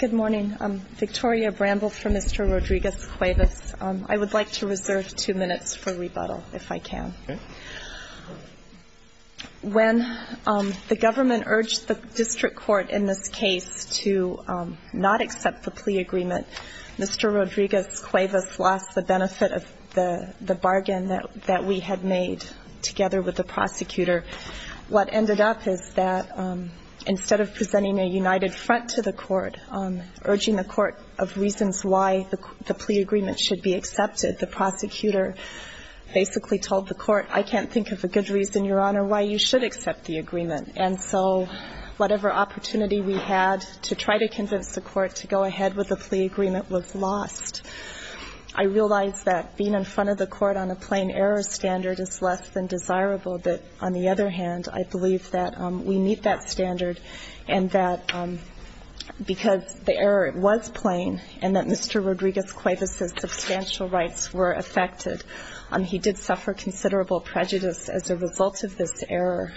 Good morning. I'm Victoria Bramble for Mr. Rodriguez-Cuevas. I would like to reserve two minutes for rebuttal, if I can. When the government urged the district court in this case to not accept the plea agreement, Mr. Rodriguez-Cuevas lost the benefit of the bargain that we had made together with the prosecutor. What ended up is that instead of presenting a united front to the court, urging the court of reasons why the plea agreement should be accepted, the prosecutor basically told the court, I can't think of a good reason, Your Honor, why you should accept the agreement. And so whatever opportunity we had to try to convince the court to go ahead with the plea agreement was lost. I realize that being in front of the court on a plain error standard is less than desirable, but on the other hand, I believe that we meet that standard and that because the error was plain and that Mr. Rodriguez-Cuevas' substantial rights were affected, he did suffer considerable prejudice as a result of this error.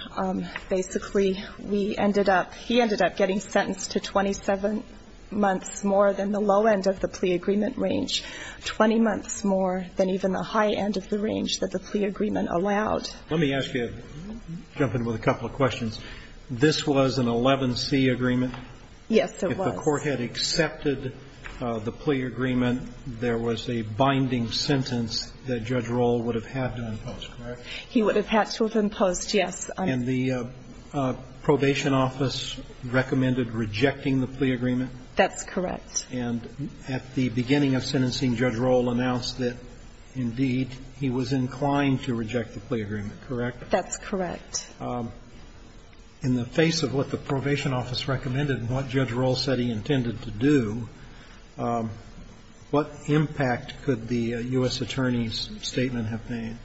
Basically, we ended up, he ended up getting sentenced to 27 months more than the low end of the plea agreement range, 20 months more than even the high end of the range that the plea agreement allowed. Let me ask you, jump in with a couple of questions. This was an 11C agreement? Yes, it was. If the court had accepted the plea agreement, there was a binding sentence that Judge Rohl would have had to impose, correct? He would have had to have imposed, yes. And the probation office recommended rejecting the plea agreement? That's correct. And at the beginning of sentencing, Judge Rohl announced that, indeed, he was inclined to reject the plea agreement, correct? That's correct. In the face of what the probation office recommended and what Judge Rohl said he intended to do, what impact could the U.S. Attorney's statement have made?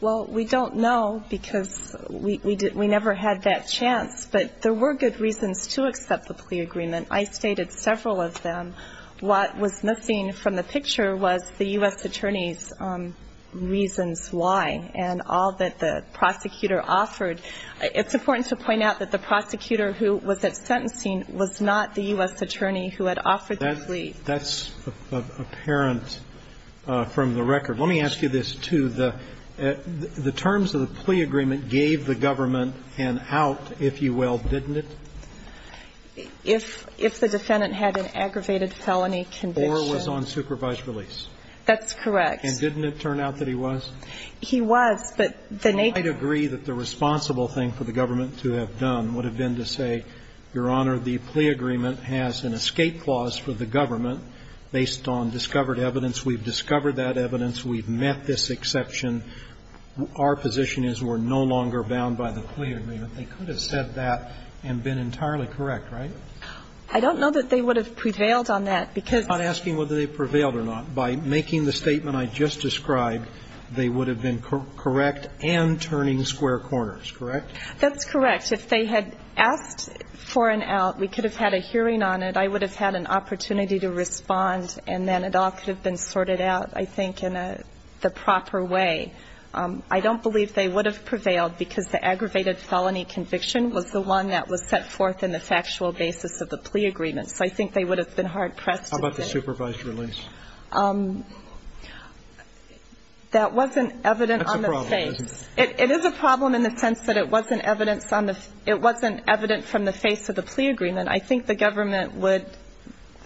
Well, we don't know because we never had that chance, but there were good reasons to accept the plea agreement. I stated several of them. What was missing from the picture was the U.S. Attorney's reasons why and all that the prosecutor offered. It's important to point out that the prosecutor who was at sentencing was not the U.S. Attorney who had offered the plea. That's apparent from the record. Let me ask you this, too. The terms of the plea agreement gave the government an out, if you will, didn't it? If the defendant had an aggravated felony condition. Or was on supervised release. That's correct. And didn't it turn out that he was? He was, but the nature of it. I agree that the responsible thing for the government to have done would have been to say, Your Honor, the plea agreement has an escape clause for the government based on discovered evidence. We've discovered that evidence. We've met this exception. Our position is we're no longer bound by the plea agreement. They could have said that and been entirely correct, right? I don't know that they would have prevailed on that, because. I'm not asking whether they prevailed or not. By making the statement I just described, they would have been correct and turning square corners, correct? That's correct. If they had asked for an out, we could have had a hearing on it. So I would have had an opportunity to respond, and then it all could have been sorted out, I think, in the proper way. I don't believe they would have prevailed, because the aggravated felony conviction was the one that was set forth in the factual basis of the plea agreement. So I think they would have been hard-pressed to say. How about the supervised release? That wasn't evident on the face. That's a problem, isn't it? It is a problem in the sense that it wasn't evident from the face of the plea agreement. I think the government would,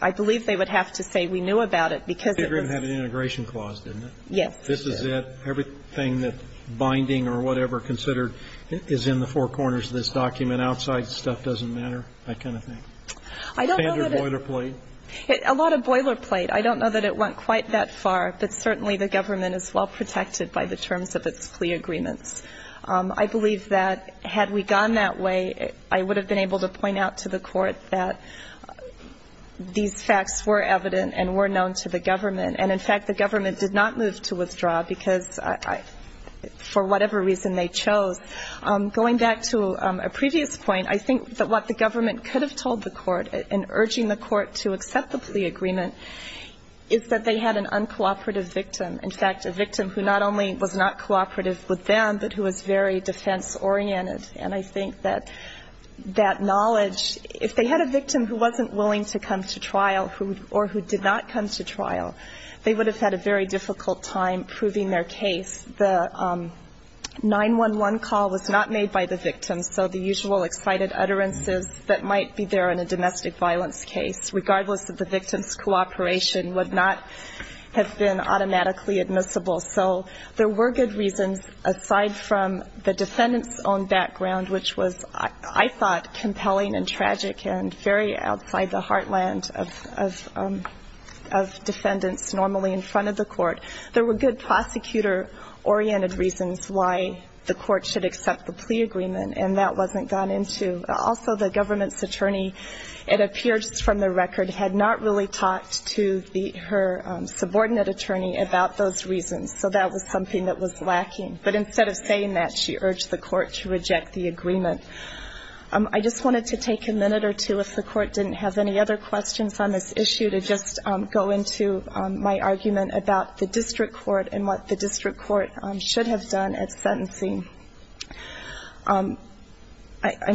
I believe they would have to say we knew about it, because it was. The plea agreement had an integration clause, didn't it? Yes. This is it. Everything that binding or whatever considered is in the four corners of this document, outside stuff doesn't matter, that kind of thing. I don't know that it. Standard boilerplate. A lot of boilerplate. I don't know that it went quite that far, but certainly the government is well-protected by the terms of its plea agreements. I believe that had we gone that way, I would have been able to point out to the court that these facts were evident and were known to the government. And, in fact, the government did not move to withdraw because for whatever reason they chose. Going back to a previous point, I think that what the government could have told the court in urging the court to accept the plea agreement is that they had an uncooperative victim. In fact, a victim who not only was not cooperative with them, but who was very defense-oriented. And I think that that knowledge, if they had a victim who wasn't willing to come to trial or who did not come to trial, they would have had a very difficult time proving their case. The 911 call was not made by the victim, so the usual excited utterances that might be there in a domestic violence case, regardless of the victim's cooperation, would not have been automatically admissible. So there were good reasons, aside from the defendant's own background, which was, I thought, compelling and tragic and very outside the heartland of defendants normally in front of the court. There were good prosecutor-oriented reasons why the court should accept the plea agreement, and that wasn't gone into. Also, the government's attorney, it appears from the record, had not really talked to her subordinate attorney about those reasons. So that was something that was lacking. But instead of saying that, she urged the court to reject the agreement. I just wanted to take a minute or two, if the court didn't have any other questions on this issue, to just go into my argument about the district court and what the district court should have done at sentencing. I'm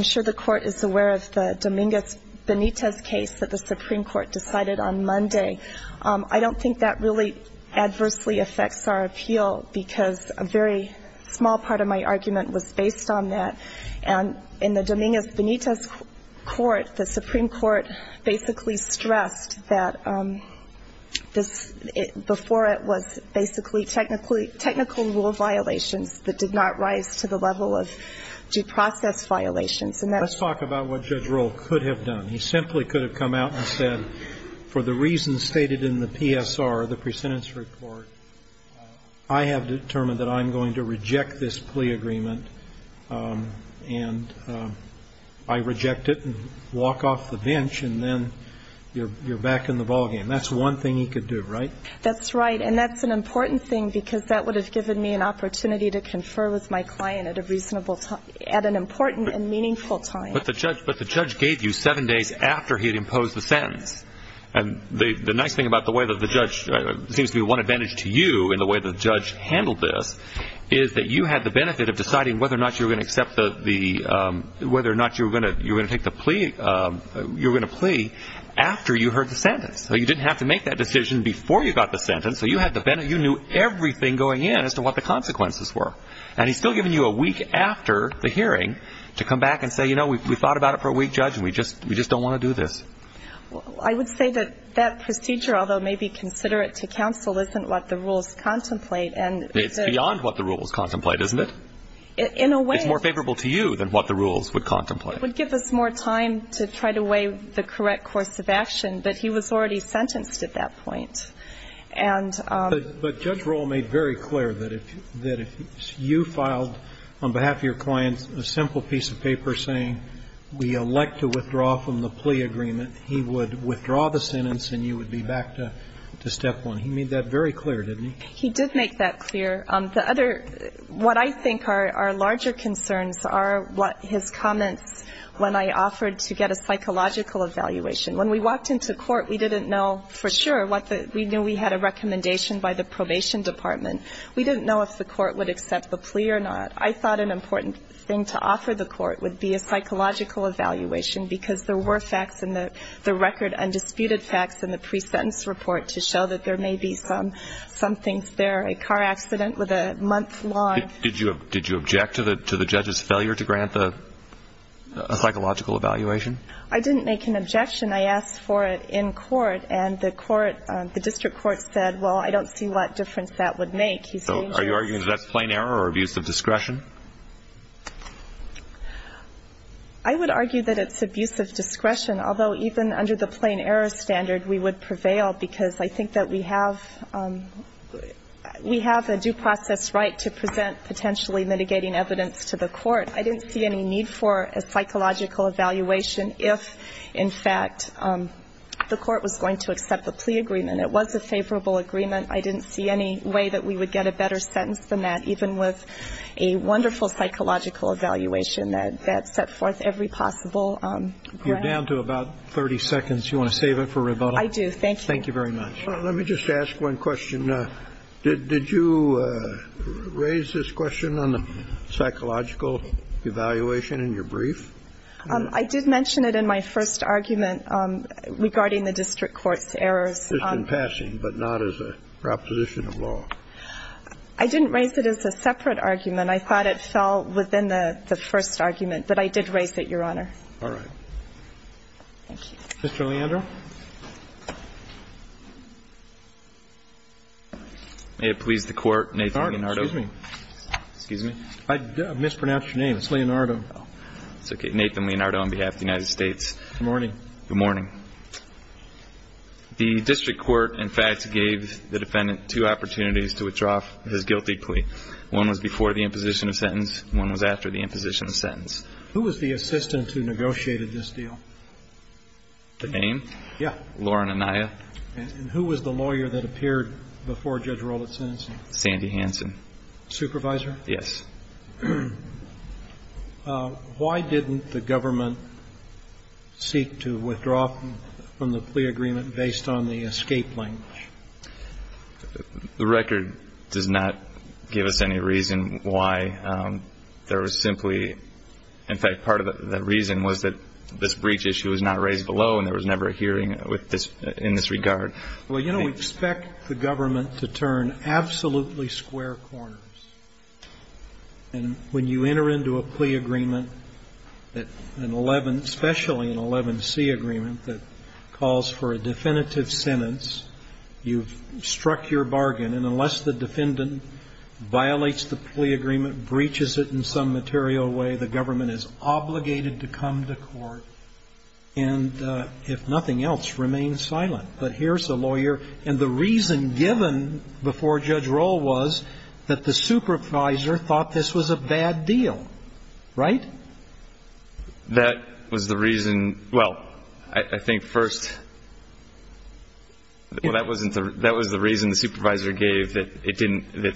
sure the court is aware of the Dominguez-Benitez case that the Supreme Court decided on Monday. I don't think that really adversely affects our appeal, because a very small part of my argument was based on that. And in the Dominguez-Benitez court, the Supreme Court basically stressed that before it was basically technical rule violations that did not rise to the level of due process violations. And that's why I'm here. And that's the kind of thing that the Dominguez-Benitez court could have done. He simply could have come out and said, for the reasons stated in the PSR, the presentence report, I have determined that I'm going to reject this plea agreement, and I reject it, and walk off the bench, and then you're back in the ballgame. That's one thing he could do. Right? That's right. And that's an important thing, because that would have given me an opportunity to confer with my client at an important and meaningful time. But the judge gave you seven days after he had imposed the sentence. And the nice thing about the way that the judge, it seems to be one advantage to you in the way the judge handled this, is that you had the benefit of deciding whether or not you were going to accept the, whether or not you were going to take the plea, you were going to plea after you heard the sentence. So you didn't have to make that decision before you got the sentence. So you knew everything going in as to what the consequences were. And he's still giving you a week after the hearing to come back and say, you know, we thought about it for a week, Judge, and we just don't want to do this. I would say that that procedure, although maybe considerate to counsel, isn't what the rules contemplate. It's beyond what the rules contemplate, isn't it? In a way. It's more favorable to you than what the rules would contemplate. It would give us more time to try to weigh the correct course of action, but he was already sentenced at that point. And But Judge Rohl made very clear that if, that if you filed on behalf of your clients a simple piece of paper saying we elect to withdraw from the plea agreement, he would withdraw the sentence and you would be back to step one. He made that very clear, didn't he? He did make that clear. The other, what I think are larger concerns are what his comments when I offered to get a psychological evaluation. When we walked into court, we didn't know for sure what the, we knew we had a recommendation by the probation department. We didn't know if the court would accept the plea or not. I thought an important thing to offer the court would be a psychological evaluation because there were facts in the record, undisputed facts in the pre-sentence report to show that there may be some things there. A car accident with a month long. Did you object to the judge's failure to grant a psychological evaluation? I didn't make an objection. I asked for it in court and the court, the district court said, well, I don't see what difference that would make. So are you arguing that's plain error or abuse of discretion? I would argue that it's abuse of discretion, although even under the plain error standard we would prevail because I think that we have, we have a due process right to present potentially mitigating evidence to the court. I didn't see any need for a psychological evaluation if, in fact, the court was going to accept the plea agreement. It was a favorable agreement. I didn't see any way that we would get a better sentence than that, even with a wonderful psychological evaluation that set forth every possible grant. You're down to about 30 seconds. Do you want to save it for rebuttal? I do, thank you. Thank you very much. Let me just ask one question. Did you raise this question on the psychological evaluation in your brief? I did mention it in my first argument regarding the district court's errors. Just in passing, but not as a proposition of law. I didn't raise it as a separate argument. I thought it fell within the first argument, but I did raise it, Your Honor. All right. Thank you. Mr. Leandro. May it please the Court, Nathan Leonardo. Excuse me. Excuse me. I mispronounced your name. It's Leonardo. It's okay. Nathan Leonardo on behalf of the United States. Good morning. Good morning. The district court, in fact, gave the defendant two opportunities to withdraw his guilty plea. One was before the imposition of sentence. One was after the imposition of sentence. Who was the assistant who negotiated this deal? The name? Yeah. Lauren Anaya. And who was the lawyer that appeared before Judge Roland's sentencing? Sandy Hansen. Supervisor? Yes. Why didn't the government seek to withdraw from the plea agreement based on the escape language? Well, I think part of the reason was that this breach issue was not raised below, and there was never a hearing in this regard. Well, you know, we expect the government to turn absolutely square corners. And when you enter into a plea agreement, an 11, especially an 11C agreement that calls for a definitive sentence, you've struck your bargain. And unless the defendant violates the plea agreement, breaches it in some material way, the government is obligated to come to court and, if nothing else, remain silent. But here's a lawyer. And the reason given before Judge Roll was that the supervisor thought this was a bad deal. Right? That was the reason. Well, I think first, that was the reason the supervisor gave, that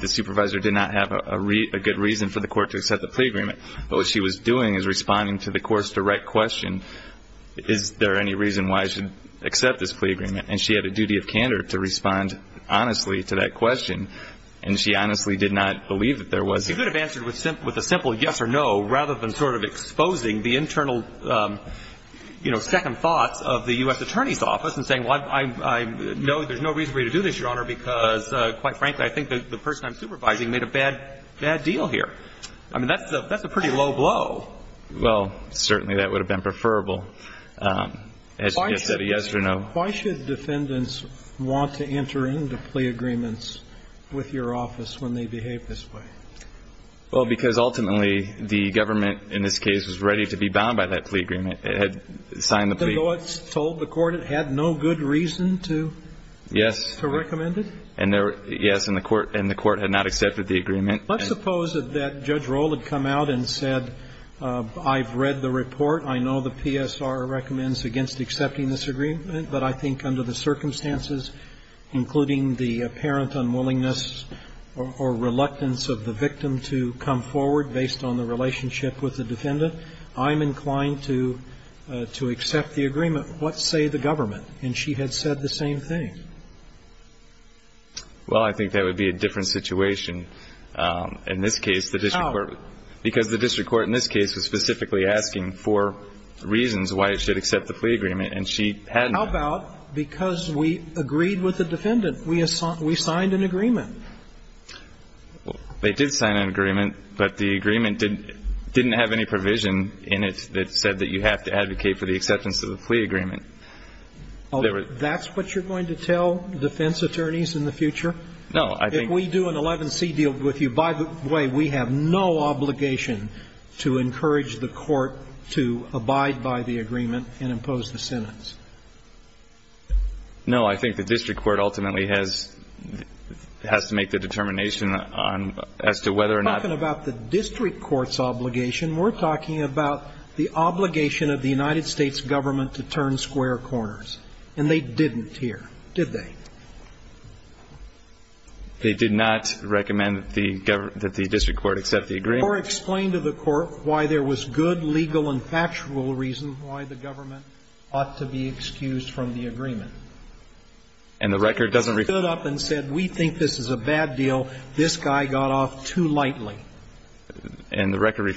the supervisor did not have a good reason for the court to accept the plea agreement. But what she was doing is responding to the court's direct question, is there any reason why I should accept this plea agreement? And she had a duty of candor to respond honestly to that question, and she honestly did not believe that there was. She could have answered with a simple yes or no rather than sort of exposing the internal, you know, second thoughts of the U.S. Attorney's Office and saying, well, I know there's no reason for you to do this, Your Honor, because, quite frankly, I think the person I'm supervising made a bad deal here. I mean, that's a pretty low blow. Well, certainly that would have been preferable, yes or no. Why should defendants want to enter into plea agreements with your office when they Well, because ultimately the government, in this case, was ready to be bound by that plea agreement. It had signed the plea. Even though it's told the court it had no good reason to recommend it? Yes. And the court had not accepted the agreement. Let's suppose that Judge Rohl had come out and said, I've read the report. I know the PSR recommends against accepting this agreement, but I think under the circumstances, including the apparent unwillingness or reluctance of the victim to come forward based on the relationship with the defendant, I'm inclined to accept the agreement. What say the government? And she had said the same thing. Well, I think that would be a different situation in this case. How? Because the district court in this case was specifically asking for reasons why it should accept the plea agreement, and she hadn't. How about because we agreed with the defendant? We signed an agreement. They did sign an agreement, but the agreement didn't have any provision in it that said that you have to advocate for the acceptance of the plea agreement. That's what you're going to tell defense attorneys in the future? No. If we do an 11C deal with you, by the way, we have no obligation to encourage the court to abide by the agreement and impose the sentence. No. I think the district court ultimately has to make the determination on as to whether or not. We're not talking about the district court's obligation. We're talking about the obligation of the United States government to turn square corners, and they didn't here, did they? They did not recommend that the district court accept the agreement. Or explain to the court why there was good legal and factual reason why the government ought to be excused from the agreement. And the record doesn't reflect. They stood up and said, we think this is a bad deal. This guy got off too lightly. And the record,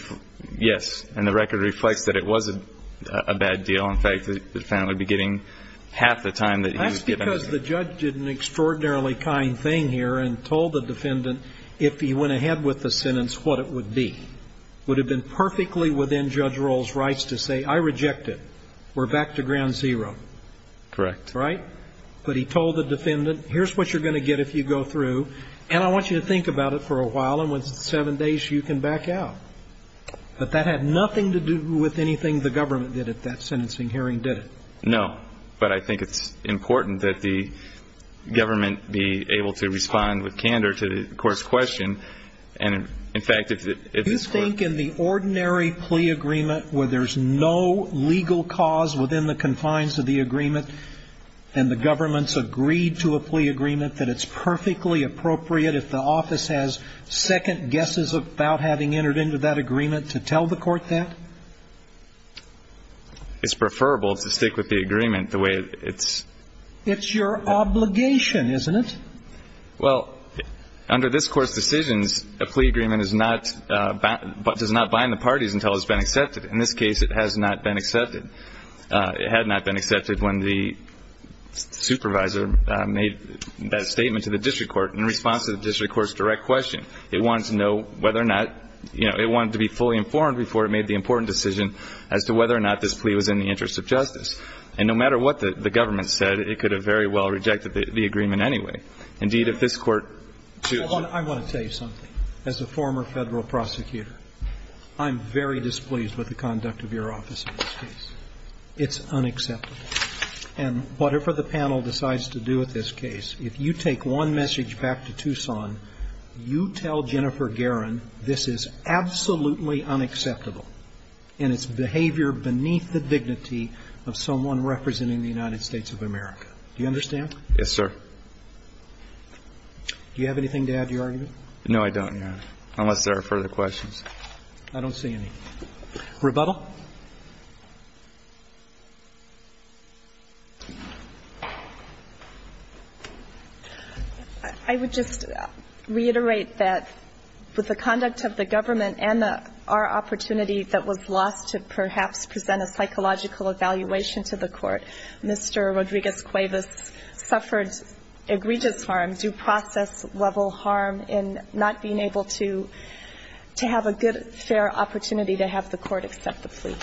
yes. And the record reflects that it was a bad deal. In fact, the defendant would be getting half the time that he was given. That's because the judge did an extraordinarily kind thing here and told the defendant if he went ahead with the sentence what it would be. Would have been perfectly within Judge Roll's rights to say, I reject it. We're back to ground zero. Correct. Right? But he told the defendant, here's what you're going to get if you go through. And I want you to think about it for a while, and within seven days you can back out. But that had nothing to do with anything the government did at that sentencing hearing, did it? No. But I think it's important that the government be able to respond with candor to the court's question. And, in fact, if this Court ---- Do you think in the ordinary plea agreement where there's no legal cause within the confines of the agreement and the government's agreed to a plea agreement that it's perfectly appropriate if the office has second guesses about having entered into that agreement to tell the Court that? It's preferable to stick with the agreement the way it's ---- It's your obligation, isn't it? Well, under this Court's decisions, a plea agreement is not ---- does not bind the parties until it's been accepted. In this case, it has not been accepted. It had not been accepted when the supervisor made that statement to the district court in response to the district court's direct question. It wanted to know whether or not ---- it wanted to be fully informed before it made the important decision as to whether or not this plea was in the interest of justice. And no matter what the government said, it could have very well rejected the agreement anyway. Indeed, if this Court ---- I want to tell you something. As a former Federal prosecutor, I'm very displeased with the conduct of your office in this case. It's unacceptable. And whatever the panel decides to do with this case, if you take one message back to Tucson, you tell Jennifer Guerin this is absolutely unacceptable and it's behavior beneath the dignity of someone representing the United States of America. Do you understand? Yes, sir. Do you have anything to add to your argument? No, I don't, Your Honor, unless there are further questions. I don't see any. Rebuttal? I would just reiterate that with the conduct of the government and our opportunity that was lost to perhaps present a psychological evaluation to the Court, Mr. Rodriguez suffered egregious harm, due process level harm in not being able to have a good, fair opportunity to have the Court accept the plea.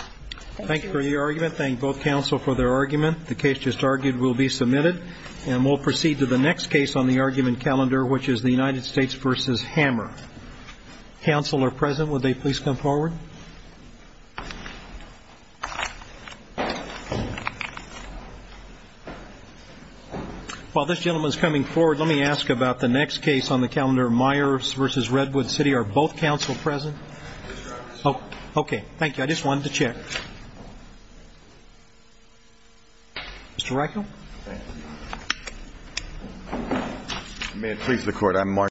Thank you. Thank you for the argument. Thank both counsel for their argument. The case just argued will be submitted. And we'll proceed to the next case on the argument calendar, which is the United States v. Hammer. Counsel are present. While this gentleman is coming forward, let me ask about the next case on the calendar, Myers v. Redwood City. Are both counsel present? Yes, Your Honor. Okay. Thank you. I just wanted to check. Mr. Reichel. Thank you. Thank you. Thank you. Thank you. Thank you. Thank you. Thank you. Thank you. Thank you. Thank you. Thank you.